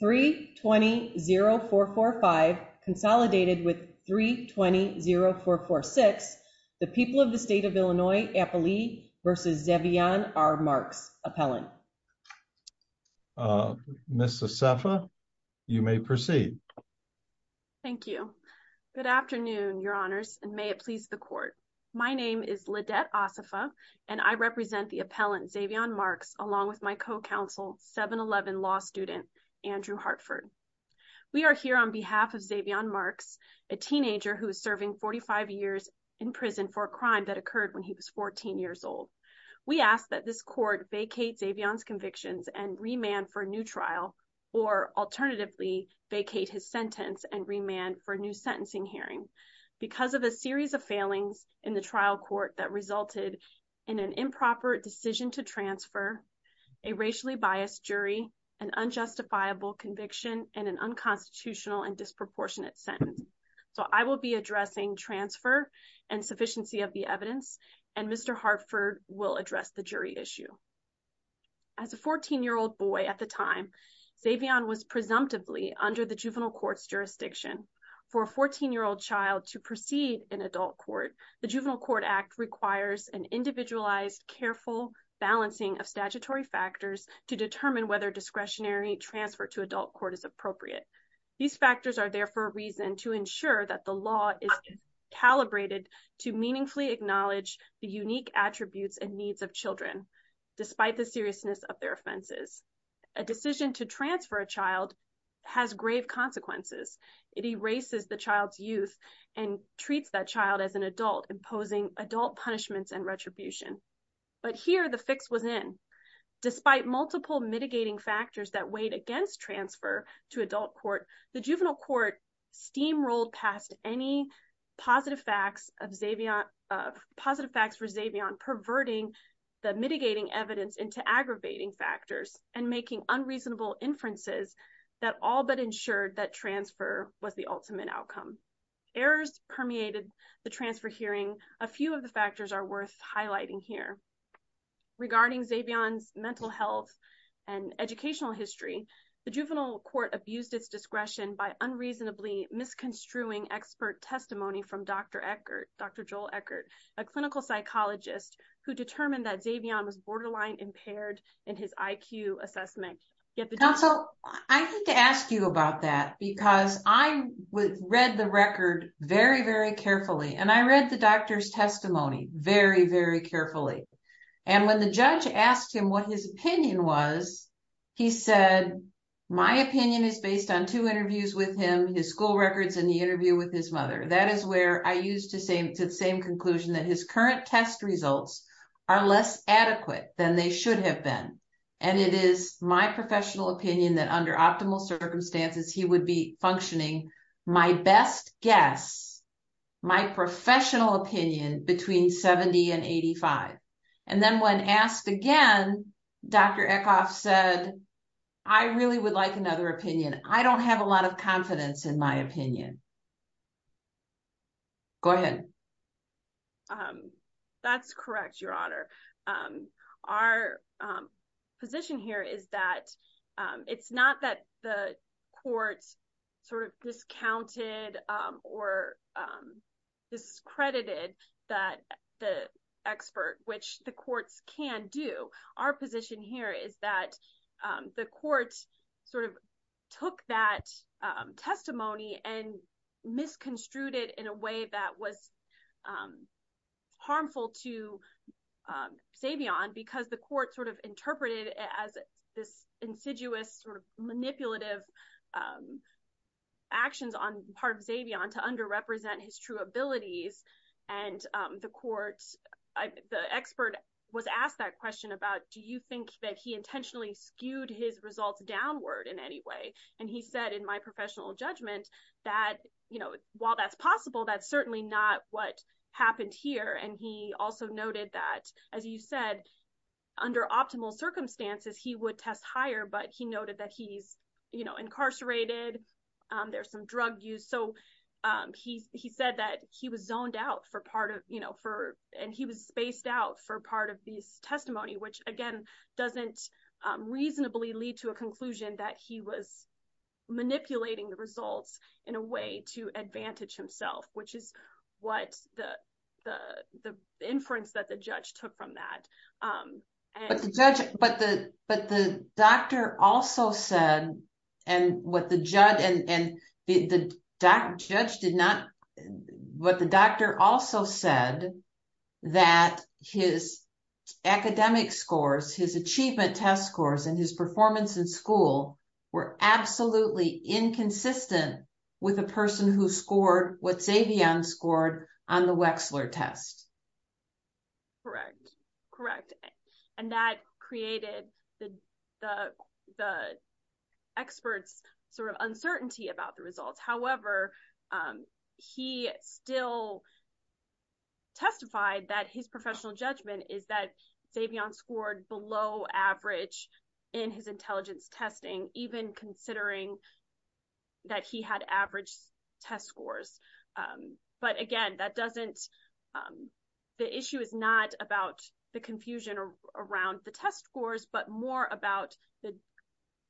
3 20 0 4 4 5 consolidated with 3 20 0 4 4 6 the people of the state of illinois appley versus zevion are marks appellant uh miss acefa you may proceed thank you good afternoon your honors and may it please the court my name is lidette asafa and i represent the appellant zevion marks along with my co-counsel 7 11 law student andrew hartford we are here on behalf of zevion marks a teenager who is serving 45 years in prison for a crime that occurred when he was 14 years old we ask that this court vacate zevion's convictions and remand for a new trial or alternatively vacate his sentence and remand for a new sentencing hearing because of a series of failings in the trial court that resulted in an improper decision to transfer a racially biased jury an unjustifiable conviction and an unconstitutional and disproportionate sentence so i will be addressing transfer and sufficiency of the evidence and mr hartford will address the jury issue as a 14 year old boy at the time zevion was presumptively under the juvenile court's the juvenile court act requires an individualized careful balancing of statutory factors to determine whether discretionary transfer to adult court is appropriate these factors are there for a reason to ensure that the law is calibrated to meaningfully acknowledge the unique attributes and needs of children despite the seriousness of their offenses a decision to transfer a child has grave consequences it erases the child's youth and treats that child as an adult imposing adult punishments and retribution but here the fix was in despite multiple mitigating factors that weighed against transfer to adult court the juvenile court steamrolled past any positive facts of zevion positive facts for zevion perverting the mitigating evidence into aggravating factors and making unreasonable inferences that all but ensured that transfer was the ultimate outcome errors permeated the transfer hearing a few of the factors are worth highlighting here regarding zevion's mental health and educational history the juvenile court abused its discretion by unreasonably misconstruing expert testimony from dr eckert dr joel eckert a clinical psychologist who determined that zevion was borderline impaired in his iq assessment so i hate to ask you about that because i read the record very very carefully and i read the doctor's testimony very very carefully and when the judge asked him what his opinion was he said my opinion is based on two interviews with him his school records in the interview with his mother that is where i used to say to the same conclusion that his current test results are less adequate than they should have been and it is my professional opinion that under optimal circumstances he would be functioning my best guess my professional opinion between 70 and 85 and then when asked again dr eckhoff said i really would like another opinion i don't have a lot of confidence in my opinion go ahead um that's correct your honor um our um position here is that um it's not that the courts sort of discounted um or um discredited that the expert which the courts can do our position here is that the court sort of took that testimony and misconstrued it in a way that was harmful to zevion because the court sort of interpreted as this insidious sort of manipulative actions on part of zevion to underrepresent his true abilities and um the court i the expert was asked that question about do you think that he intentionally skewed his results downward in any way and he said in my professional judgment that you know while that's possible that's certainly not what happened here and he also noted that as you said under optimal circumstances he would test higher but he noted that he's you know incarcerated um so um he he said that he was zoned out for part of you know for and he was spaced out for part of these testimony which again doesn't um reasonably lead to a conclusion that he was manipulating the results in a way to advantage himself which is what the the the inference that the judge took from that um but the judge but the but the doctor also said and what the judge and and the doc judge did not what the doctor also said that his academic scores his achievement test scores and his performance in school were absolutely inconsistent with a person who scored what correct and that created the the the experts sort of uncertainty about the results however he still testified that his professional judgment is that savion scored below average in his intelligence testing even considering that he had average test scores um but again that doesn't um the issue is not about the confusion around the test scores but more about the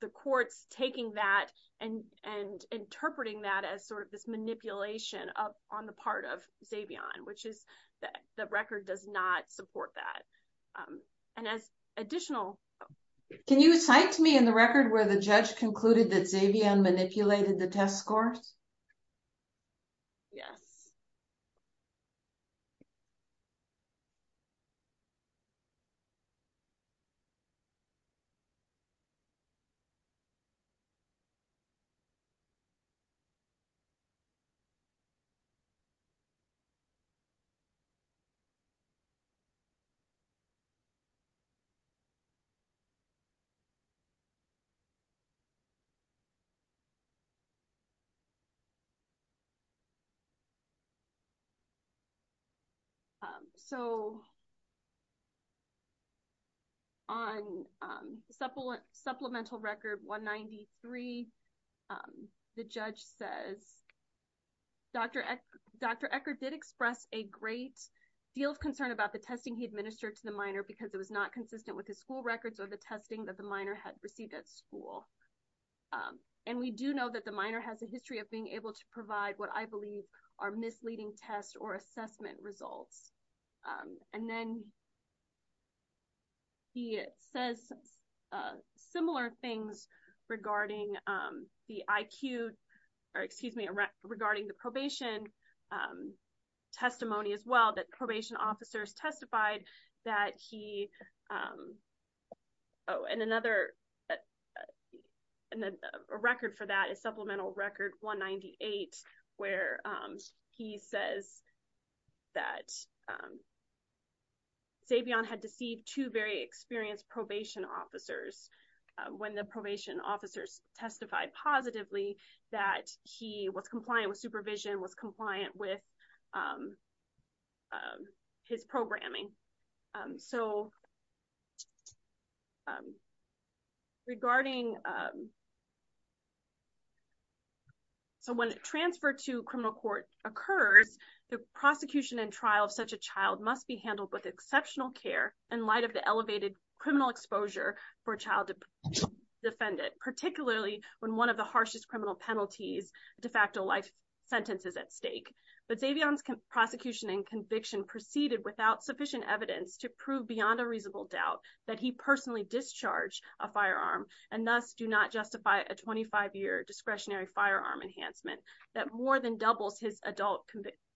the courts taking that and and interpreting that as sort of this manipulation of on the part of savion which is that the record does not support that um and as additional can you cite to me in the record where the judge concluded that savion manipulated the test scores yes um so on um supplemental record 193 um the judge says dr dr ecker did express a great deal of concern about the testing he administered to the minor because it was not consistent with his school records or the testing that the minor had received at school um and we do know that the minor has a history of being able to provide what i believe are misleading tests or assessment results um and then he says similar things regarding um the iq or excuse me regarding the probation um testimony as well that probation officers testified that he um oh and another and a record for that is supplemental record 198 where um he says that um savion had deceived two very experienced probation officers when the probation officers testified positively that he was compliant with supervision was compliant with um his programming um so um regarding um so when transfer to criminal court occurs the prosecution and trial of such a child must be handled with exceptional care in light of the elevated criminal exposure for child defendant particularly when one of the harshest criminal penalties de facto life sentence is at stake but savion's prosecution and conviction proceeded without sufficient evidence to prove beyond a reasonable doubt that he personally discharged a firearm and thus do not justify a 25-year discretionary firearm enhancement that more than doubles his adult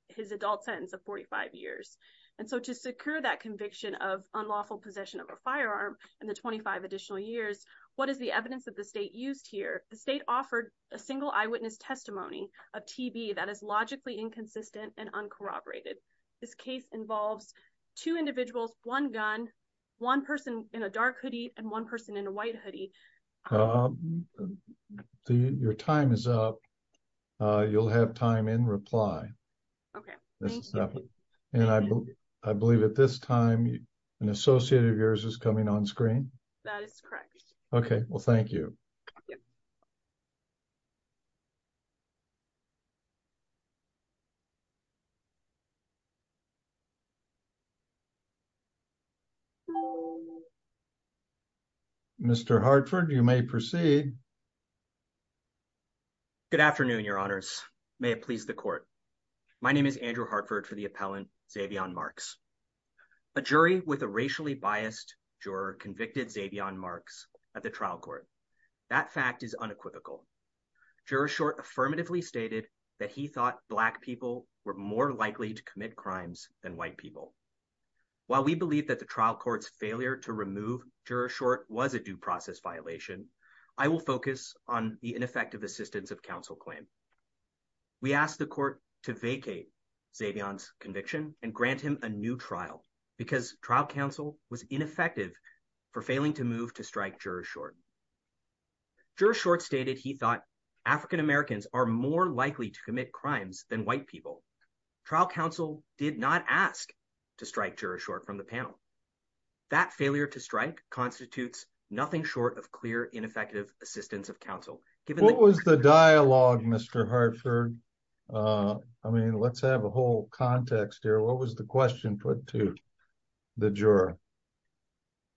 his adult sentence of 45 years and so to secure that conviction of unlawful possession of a firearm in the 25 additional years what is the evidence that the state used here the state offered a single eyewitness testimony of tb that is logically inconsistent and uncorroborated this case involves two individuals one gun one person in a dark hoodie and one person in a white hoodie so your time is up uh you'll have time in reply okay and i believe at this time an associate of yours is coming on screen that is correct okay well thank you mr hartford you may proceed good afternoon your honors may it please the court my name is andrew hartford for the appellant savion marks a jury with a racially biased juror convicted savion marks at the trial court that fact is unequivocal juror short affirmatively stated that he thought black people were more likely to commit crimes than white people while we believe that the trial court's failure to remove juror short was a due process violation i will focus on the ineffective assistance of counsel claim we asked the court to vacate savion's conviction and grant him a new trial because trial counsel was ineffective for failing to move to strike juror short juror short stated he thought african-americans are more likely to commit crimes than white people trial counsel did not ask to strike juror short from the panel that failure to strike constitutes nothing short of clear ineffective assistance of counsel given what was the dialogue mr hartford uh i mean let's have a whole context here what was the question put to the juror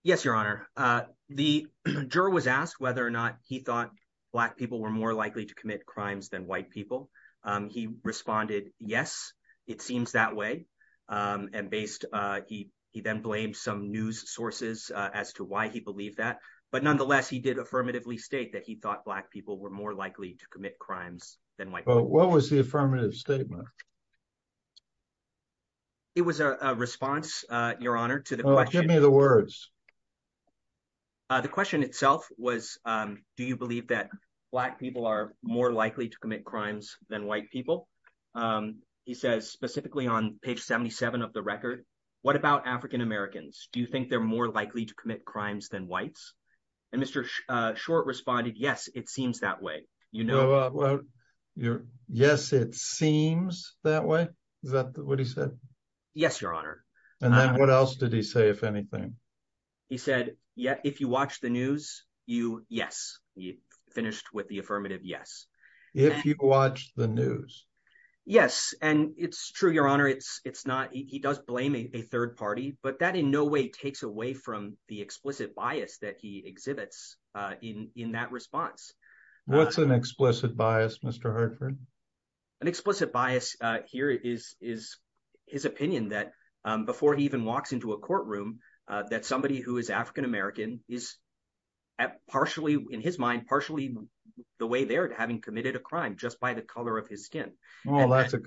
yes your honor uh the juror was asked whether or not he thought black people were more likely to commit crimes than white people um he responded yes it seems that way um and based uh he he then blamed some news sources as to why he believed that but nonetheless he did affirmatively state that he thought black people were more likely to commit crimes than white what was the affirmative statement it was a response uh your honor to the give me the words uh the question itself was um do you believe that black people are more likely to commit crimes than white people um he says specifically on page 77 of the record what about african-americans do you think they're more likely to commit crimes than whites and mr uh short responded yes it seems that way you know well you're yes it seems that way is that what he said yes your honor and then what else did he say if anything he said yeah if you watch the news you yes he finished with the affirmative yes if you watch the news yes and it's true your honor it's it's not he does blame a third party but that in no way takes away from the explicit bias that he exhibits uh in in that response what's an explicit bias mr hartford an explicit bias uh here is is his opinion that um before he even walks into a courtroom uh that somebody who is african-american is at partially in his mind partially the way they're having committed a crime just by the color of his skin well that's a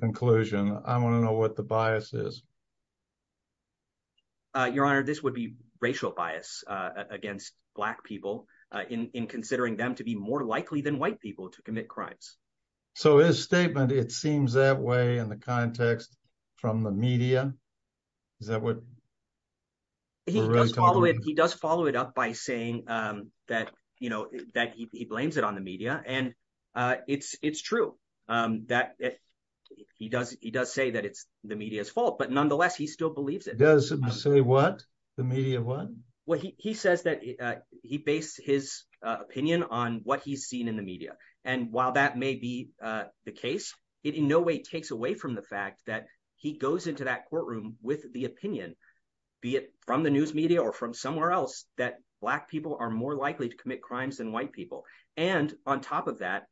uh your honor this would be racial bias uh against black people uh in in considering them to be more likely than white people to commit crimes so his statement it seems that way in the context from the media is that what he does follow it he does follow it up by saying um that you know that he blames it on the media and uh it's it's true um that he does he does say that it's the media's fault but nonetheless he still believes it does him say what the media what well he he says that uh he based his uh opinion on what he's seen in the media and while that may be uh the case it in no way takes away from the fact that he goes into that courtroom with the opinion be it from the news media or from somewhere else that black people are more likely to commit crimes than white people and on top of that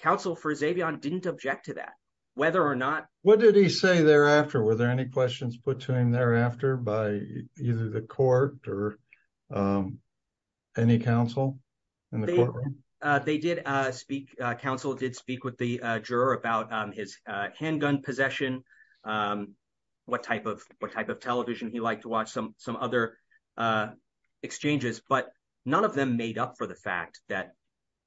counsel for zavian didn't object to that whether or not what did he say thereafter were there any questions put to him thereafter by either the court or um any counsel in the courtroom uh they did uh speak uh counsel did speak with the uh juror about um his uh handgun possession um what type of what type of television he liked to watch some some other uh exchanges but none of them made up for the fact that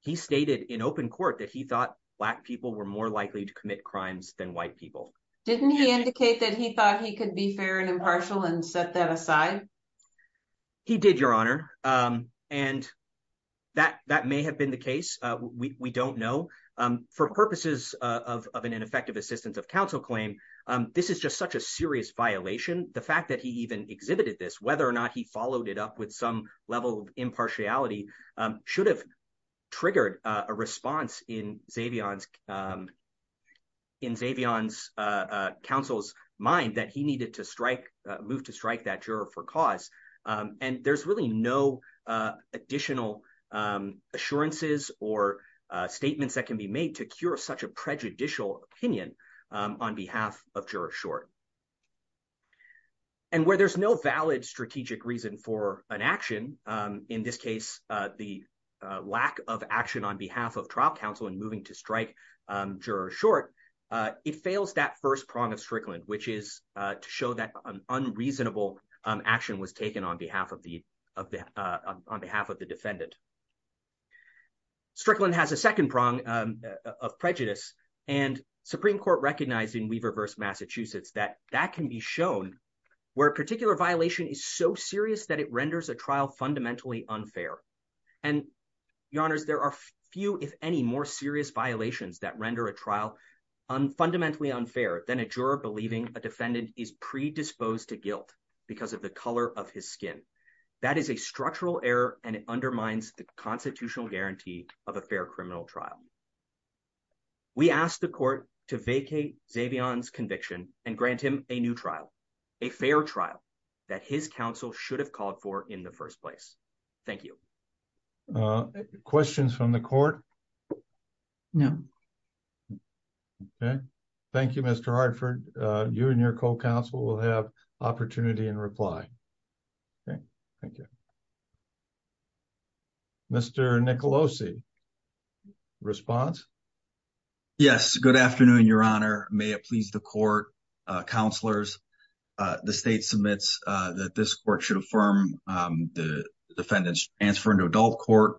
he stated in open court that he thought black people were more likely to commit crimes than white people didn't he indicate that he thought he could be fair and impartial and set that aside he did your honor um and that that may have been the case uh we we don't know um for purposes of of an ineffective assistance of counsel claim um this is just such a serious violation the fact that he even exhibited this whether or not he followed it up with some level of impartiality um should have triggered a response in zavian's um in zavian's uh uh counsel's mind that he needed to strike move to strike that juror for cause um and there's really no uh additional um assurances or uh statements that can be made to cure such a prejudicial opinion um on behalf of juror short and where there's no valid strategic reason for an action um in this case uh the uh lack of action on behalf of trial counsel and moving to strike um juror short uh it fails that first prong of strickland which is uh to show that an unreasonable um action was taken on behalf of the of the uh on behalf of the defendant strickland has a second prong um of prejudice and supreme court recognized in weaver versus that that can be shown where a particular violation is so serious that it renders a trial fundamentally unfair and your honors there are few if any more serious violations that render a trial unfundamentally unfair than a juror believing a defendant is predisposed to guilt because of the color of his skin that is a structural error and it undermines the grant him a new trial a fair trial that his counsel should have called for in the first place thank you uh questions from the court no okay thank you mr hardford uh you and your co-counsel will have opportunity and reply okay thank you mr nicolosi response yes good afternoon your honor may it please the court uh counselors uh the state submits uh that this court should affirm um the defendant's transfer into adult court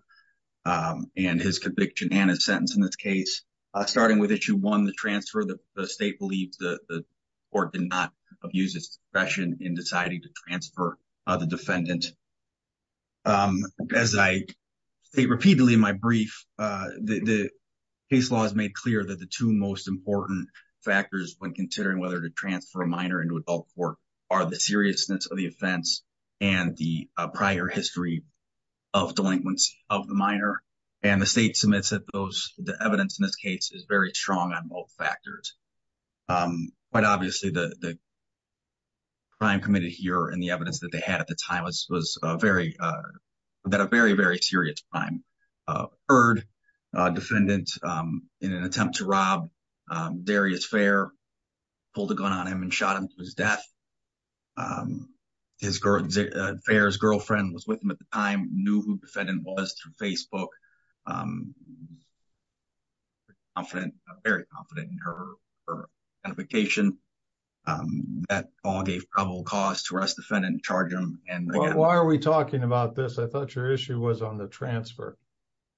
um and his conviction and his sentence in this case uh starting with issue one the transfer the state believes the the court did not abuse its discretion in deciding to transfer uh the defendant um as i state repeatedly in my factors when considering whether to transfer a minor into adult court are the seriousness of the offense and the prior history of delinquency of the minor and the state submits that those the evidence in this case is very strong on both factors um quite obviously the the crime committed here and the evidence that they had at the time was was a very uh a very very serious crime uh heard uh defendant um in an attempt to rob um darius fair pulled a gun on him and shot him to his death um his girl fair's girlfriend was with him at the time knew who defendant was through facebook um confident very confident in her identification that all gave probable cause to arrest defendant and charge him and why are we talking about this thought your issue was on the transfer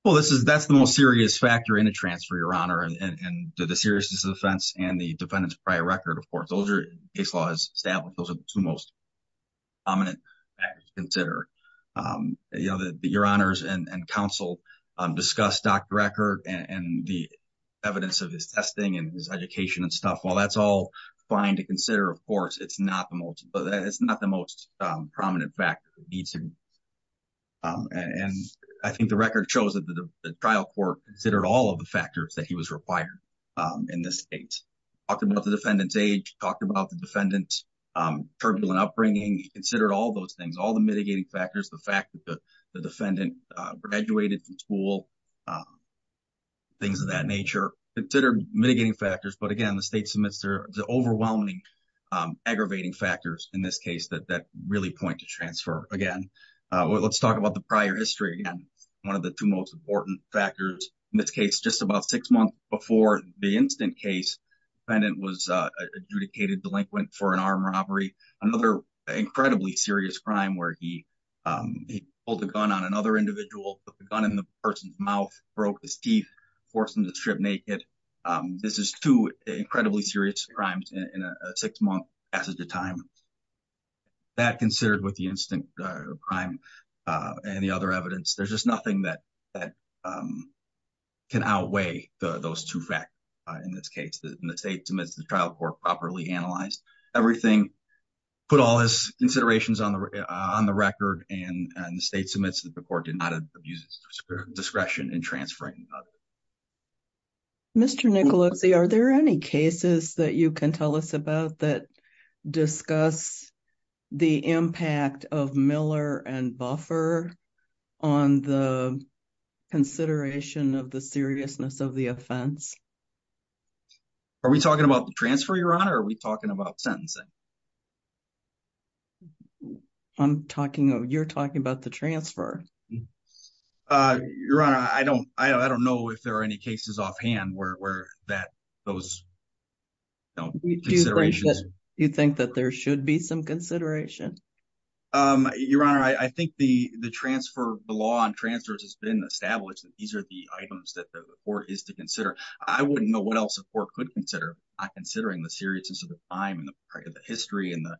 well this is that's the most serious factor in a transfer your honor and and the seriousness of the fence and the defendant's prior record of course those are case laws established those are the two most prominent factors consider um you know that your honors and and counsel um discussed dr record and and the evidence of his testing and his education and stuff while that's all fine to consider of course it's not the most but it's not the most prominent fact it needs to be um and i think the record shows that the trial court considered all of the factors that he was required um in this state talked about the defendant's age talked about the defendant's um turbulent upbringing he considered all those things all the mitigating factors the fact that the defendant uh graduated from school um things of that nature considered mitigating factors but again the state submits their the overwhelming um aggravating factors in this case that that really point to transfer again uh let's talk about the prior history again one of the two most important factors in this case just about six months before the instant case defendant was uh adjudicated delinquent for an armed robbery another incredibly serious crime where he um he pulled a gun on another individual put the gun in the person's mouth broke his teeth forced him to strip naked um this is two incredibly serious crimes in a six month passage of time that considered with the instant uh crime uh and the other evidence there's just nothing that that um can outweigh the those two facts in this case the state submits the trial court properly analyzed everything put all his considerations on the on the record and the state submits that the court did not abuse its discretion in transferring mr nicoletti are there any cases that you can tell us about that discuss the impact of miller and buffer on the consideration of the seriousness of the offense are we talking about the transfer your honor are we talking about sentencing i'm talking of you're talking about the transfer uh your honor i don't i don't know if there are any cases offhand where that those considerations you think that there should be some consideration um your honor i i think the the transfer the law on transfers has been established that these are the items that the court is to consider i wouldn't know what else the court could consider not history and the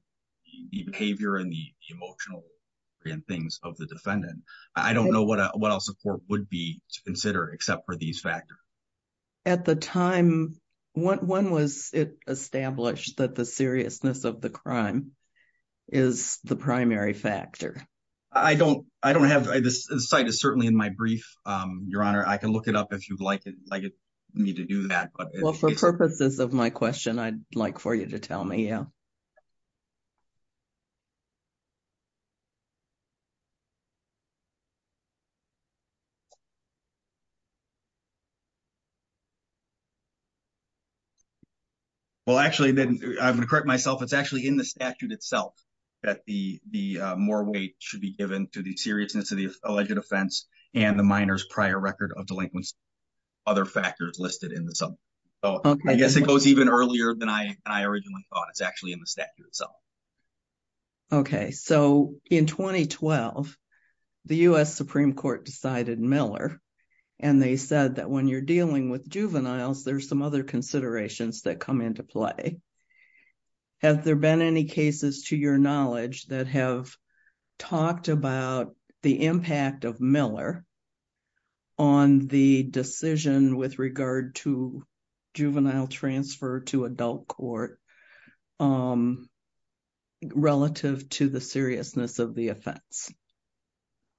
behavior and the emotional and things of the defendant i don't know what what else the court would be to consider except for these factors at the time when was it established that the seriousness of the crime is the primary factor i don't i don't have this site is certainly in my brief um your honor i can look it up if you'd like it like it need to do that well for purposes of my question i'd like for you to tell me yeah well actually then i'm gonna correct myself it's actually in the statute itself that the the more weight should be given to the seriousness of the alleged offense and the minors prior record of delinquency other factors listed in the subject so i guess it goes even earlier than i i originally thought it's actually in the statute itself okay so in 2012 the u.s supreme court decided miller and they said that when you're dealing with juveniles there's some other considerations that come into play has there of miller on the decision with regard to juvenile transfer to adult court um relative to the seriousness of the offense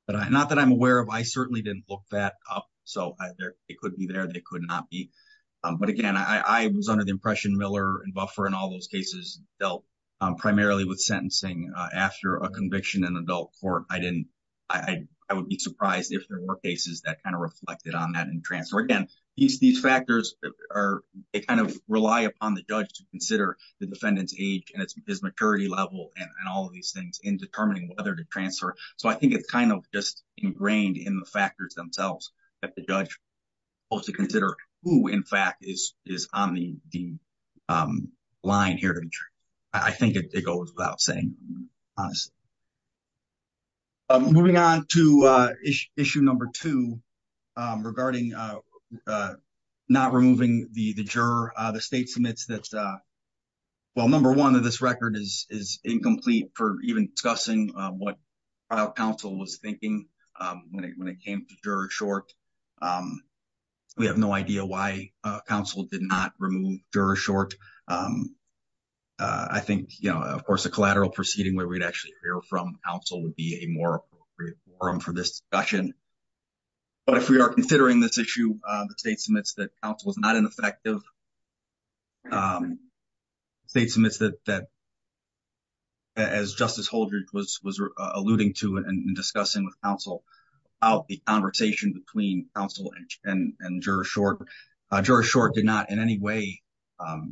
but i not that i'm aware of i certainly didn't look that up so either it could be there they could not be um but again i i was under the impression miller and buffer and all those cases dealt um primarily with sentencing uh after a conviction in adult court i didn't i i would be surprised if there were cases that kind of reflected on that and transfer again these these factors are they kind of rely upon the judge to consider the defendant's age and his maturity level and all these things in determining whether to transfer so i think it's kind of just ingrained in the factors themselves that the judge goes to consider who in fact is is on the um line here i think it goes without saying honestly um moving on to uh issue number two um regarding uh uh not removing the the juror uh the state submits that's uh well number one of this record is is incomplete for even discussing what our council was thinking um when it when it came to juror short um we have no idea why uh council did not remove juror short um i think you know of course a collateral proceeding where we'd actually hear from council would be a more appropriate forum for this discussion but if we are considering this issue uh the state submits that council was not ineffective um state submits that that as justice holdridge was was alluding to and discussing with council about the conversation between council and and juror short uh juror short did not in any way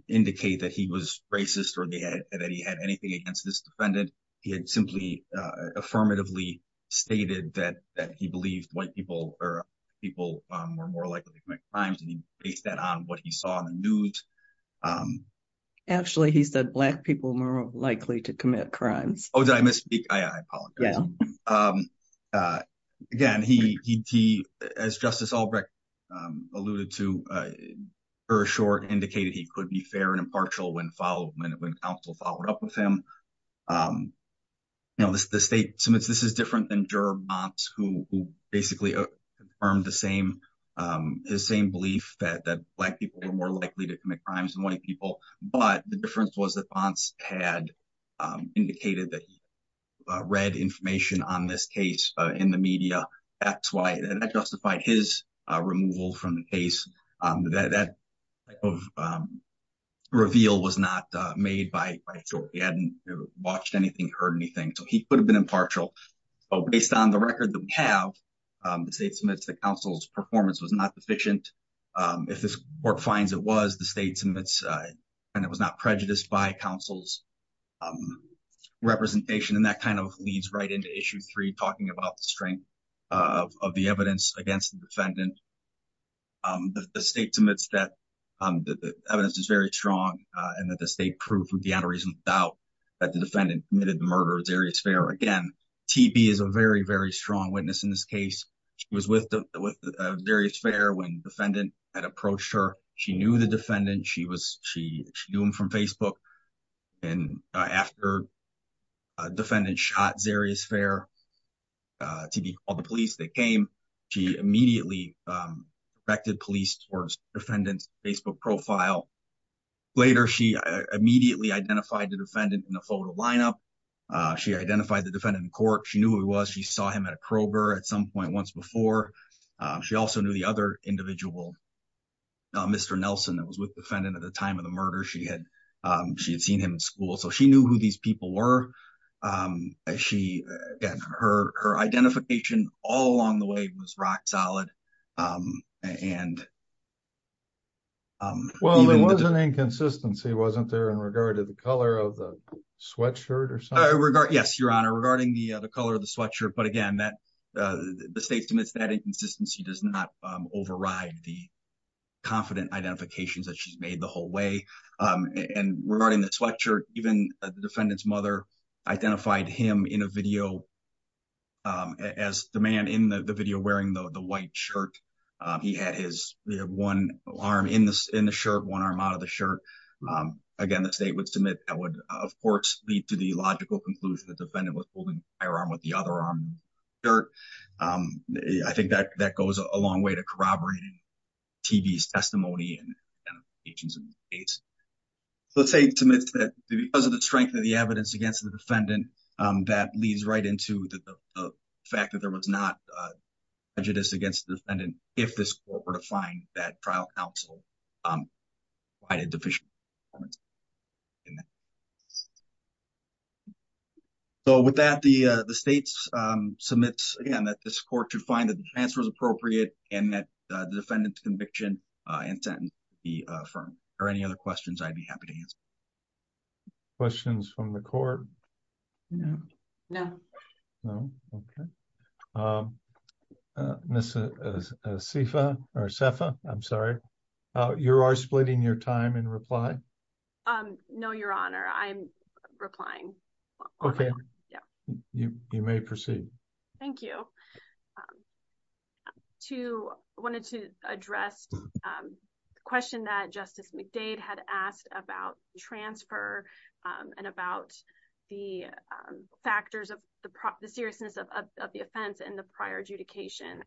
indicate that he was racist or they had that he had anything against this defendant he had simply uh affirmatively stated that that he believed white people or people um were more to commit crimes and he based that on what he saw in the news um actually he said black people were more likely to commit crimes oh did i misspeak i i apologize um uh again he he as justice albrecht um alluded to uh her short indicated he could be fair and impartial when followed when council followed up with him um you know the state submits this is different who who basically confirmed the same um his same belief that that black people were more likely to commit crimes than white people but the difference was that fonts had um indicated that he uh read information on this case uh in the media that's why that justified his uh removal from the case um that that type of um reveal was not uh made by by short he hadn't watched anything heard anything so he could have been impartial but based on the record that we have um the state submits the council's performance was not deficient um if this court finds it was the state submits and it was not prejudiced by council's um representation and that kind of leads right into issue three talking about the strength of of the evidence against the defendant um the state submits that um the evidence is very strong uh and that the state proved without that the defendant committed the murder of xeris fair again tb is a very very strong witness in this case she was with the with xeris fair when defendant had approached her she knew the defendant she was she she knew him from facebook and uh after a defendant shot xeris fair uh tb called the police they came she immediately um affected police towards defendant's identified the defendant in the photo lineup uh she identified the defendant in court she knew who he was she saw him at a crowbar at some point once before she also knew the other individual mr nelson that was with defendant at the time of the murder she had um she had seen him in school so she knew who these people were um she her her identification all along the way was rock solid um and um well there was an inconsistency wasn't there in regard to the color of the sweatshirt or something regard yes your honor regarding the the color of the sweatshirt but again that uh the state submits that inconsistency does not override the confident identifications that she's made the whole way um and regarding the sweatshirt even the defendant's mother identified him in a video um as the man in the video wearing the white shirt he had his one arm in this in the shirt one arm out of the shirt um again the state would submit that would of course lead to the logical conclusion the defendant was holding the firearm with the other arm shirt um i think that that goes a long way to corroborating tv's testimony and agents and states let's say because of the strength of the evidence against the defendant um that leads right into the fact that there was not uh prejudice against the defendant if this court were to find that trial counsel um quite a deficient performance so with that the uh the states um submits again that this court should find that the defense was appropriate and that the defendant's conviction uh and sentence be affirmed or any other questions i'd be happy to answer questions from the court no no no okay um miss sifa or sefa i'm sorry uh you are splitting your time in reply um no your honor i'm replying okay yeah you you may proceed thank you um to wanted to address um the question that justice mcdade had asked about transfer um and about the um factors of the seriousness of the offense and the prior adjudication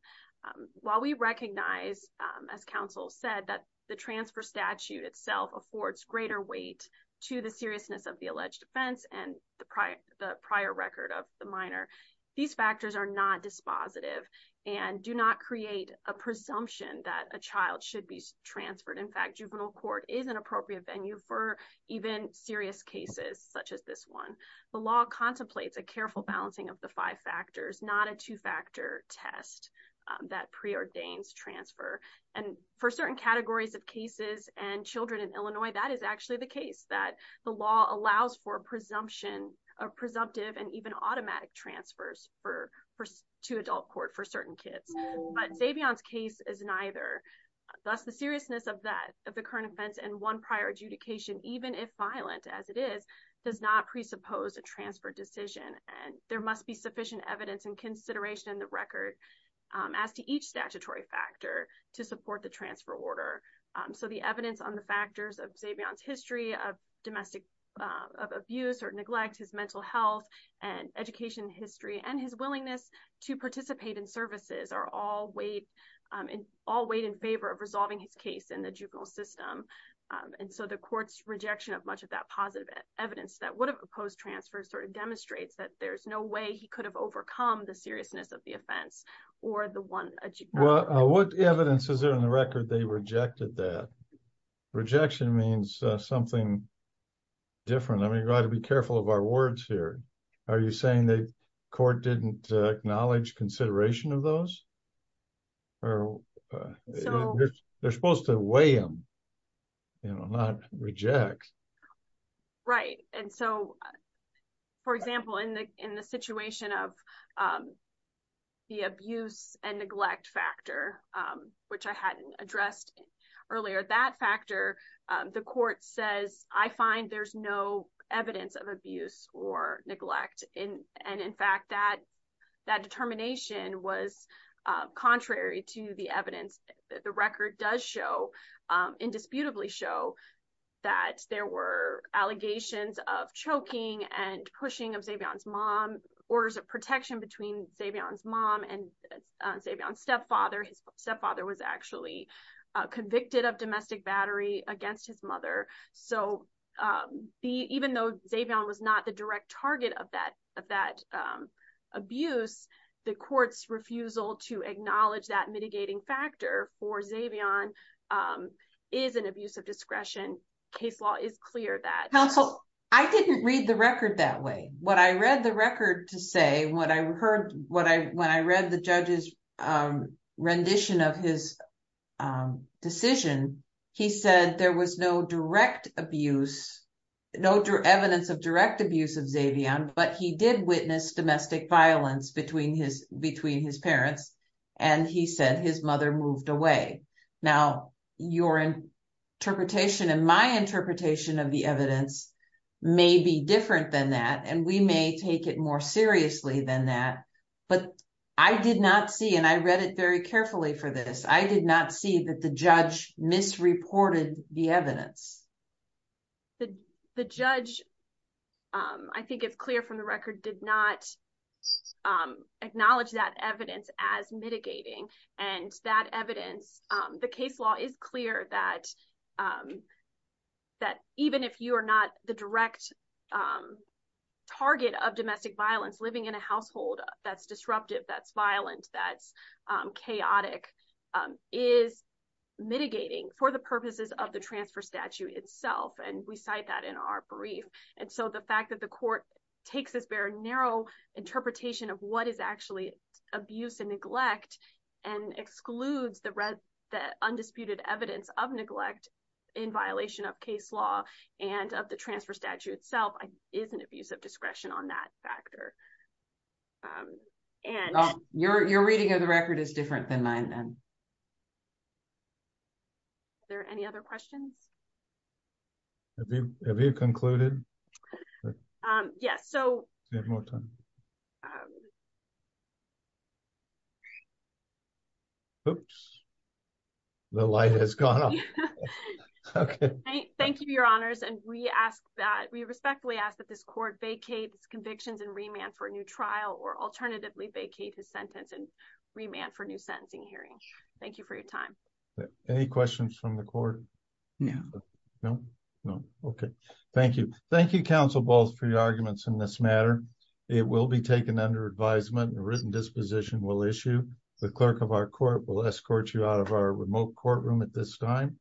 um while we recognize um as counsel said that the transfer statute itself affords greater weight to the seriousness of the alleged offense and the prior the prior record of the minor these factors are not dispositive and do not create a presumption that a child should be transferred in fact juvenile court is an appropriate venue for even serious cases such as this one the law contemplates a careful balancing of the five factors not a two-factor test that pre-ordains transfer and for certain categories of cases and children in illinois that is actually the case that the law allows for presumption of presumptive and even automatic transfers for for to adult court for certain kids but savion's case is neither thus the seriousness of that of the current offense and one prior adjudication even if violent as it is does not presuppose a transfer decision and there must be sufficient evidence and consideration in the record as to each statutory factor to support the transfer order so the evidence on the factors of savion's history of domestic of abuse or neglect his mental health and education history and his willingness to participate in services are all weighed in all weighed in favor of resolving his case in the juvenile system and so the court's rejection of much of that positive evidence that would have opposed transfer sort of demonstrates that there's no way he could have overcome the seriousness of the offense or the one well what evidence is there in the record they rejected that rejection means something different i mean you got to be careful of our words here are you saying the court didn't acknowledge consideration of those or they're supposed to weigh them you know not reject right and so for example in the in the situation of the abuse and neglect factor which i hadn't addressed earlier that factor the court says i find there's no evidence of abuse or neglect in and in fact that that determination was contrary to the evidence the record does show indisputably show that there were allegations of choking and pushing of savion's mom orders of protection between savion's mom and savion's stepfather his stepfather was actually convicted of domestic battery against his mother so the even though savion was not the direct target of that that abuse the court's refusal to acknowledge that mitigating factor for savion is an abuse of discretion case law is clear that counsel i didn't read the record that way what i read the record to say what i heard what i when i read the judge's rendition of his decision he said there was no domestic violence between his between his parents and he said his mother moved away now your interpretation and my interpretation of the evidence may be different than that and we may take it more seriously than that but i did not see and i read it very carefully for this i did not see that the judge misreported the evidence the the judge um i think it's clear from the record did not acknowledge that evidence as mitigating and that evidence the case law is clear that that even if you are not the direct target of domestic violence living in a household that's disruptive that's violent that's chaotic is mitigating for the purposes of the transfer itself and we cite that in our brief and so the fact that the court takes this very narrow interpretation of what is actually abuse and neglect and excludes the red the undisputed evidence of neglect in violation of case law and of the transfer statute itself is an abuse of discretion on that factor um and your your reading of the record is different than mine then are there any other questions have you have you concluded um yes so we have more time oops the light has gone off okay thank you your honors and we ask that we respectfully ask that this court vacates convictions and remand for a new trial or alternatively vacate his sentence and demand for new sentencing hearing thank you for your time any questions from the court yeah no no okay thank you thank you counsel balls for your arguments in this matter it will be taken under advisement and written disposition will issue the clerk of our court will escort you out of our remote courtroom at this time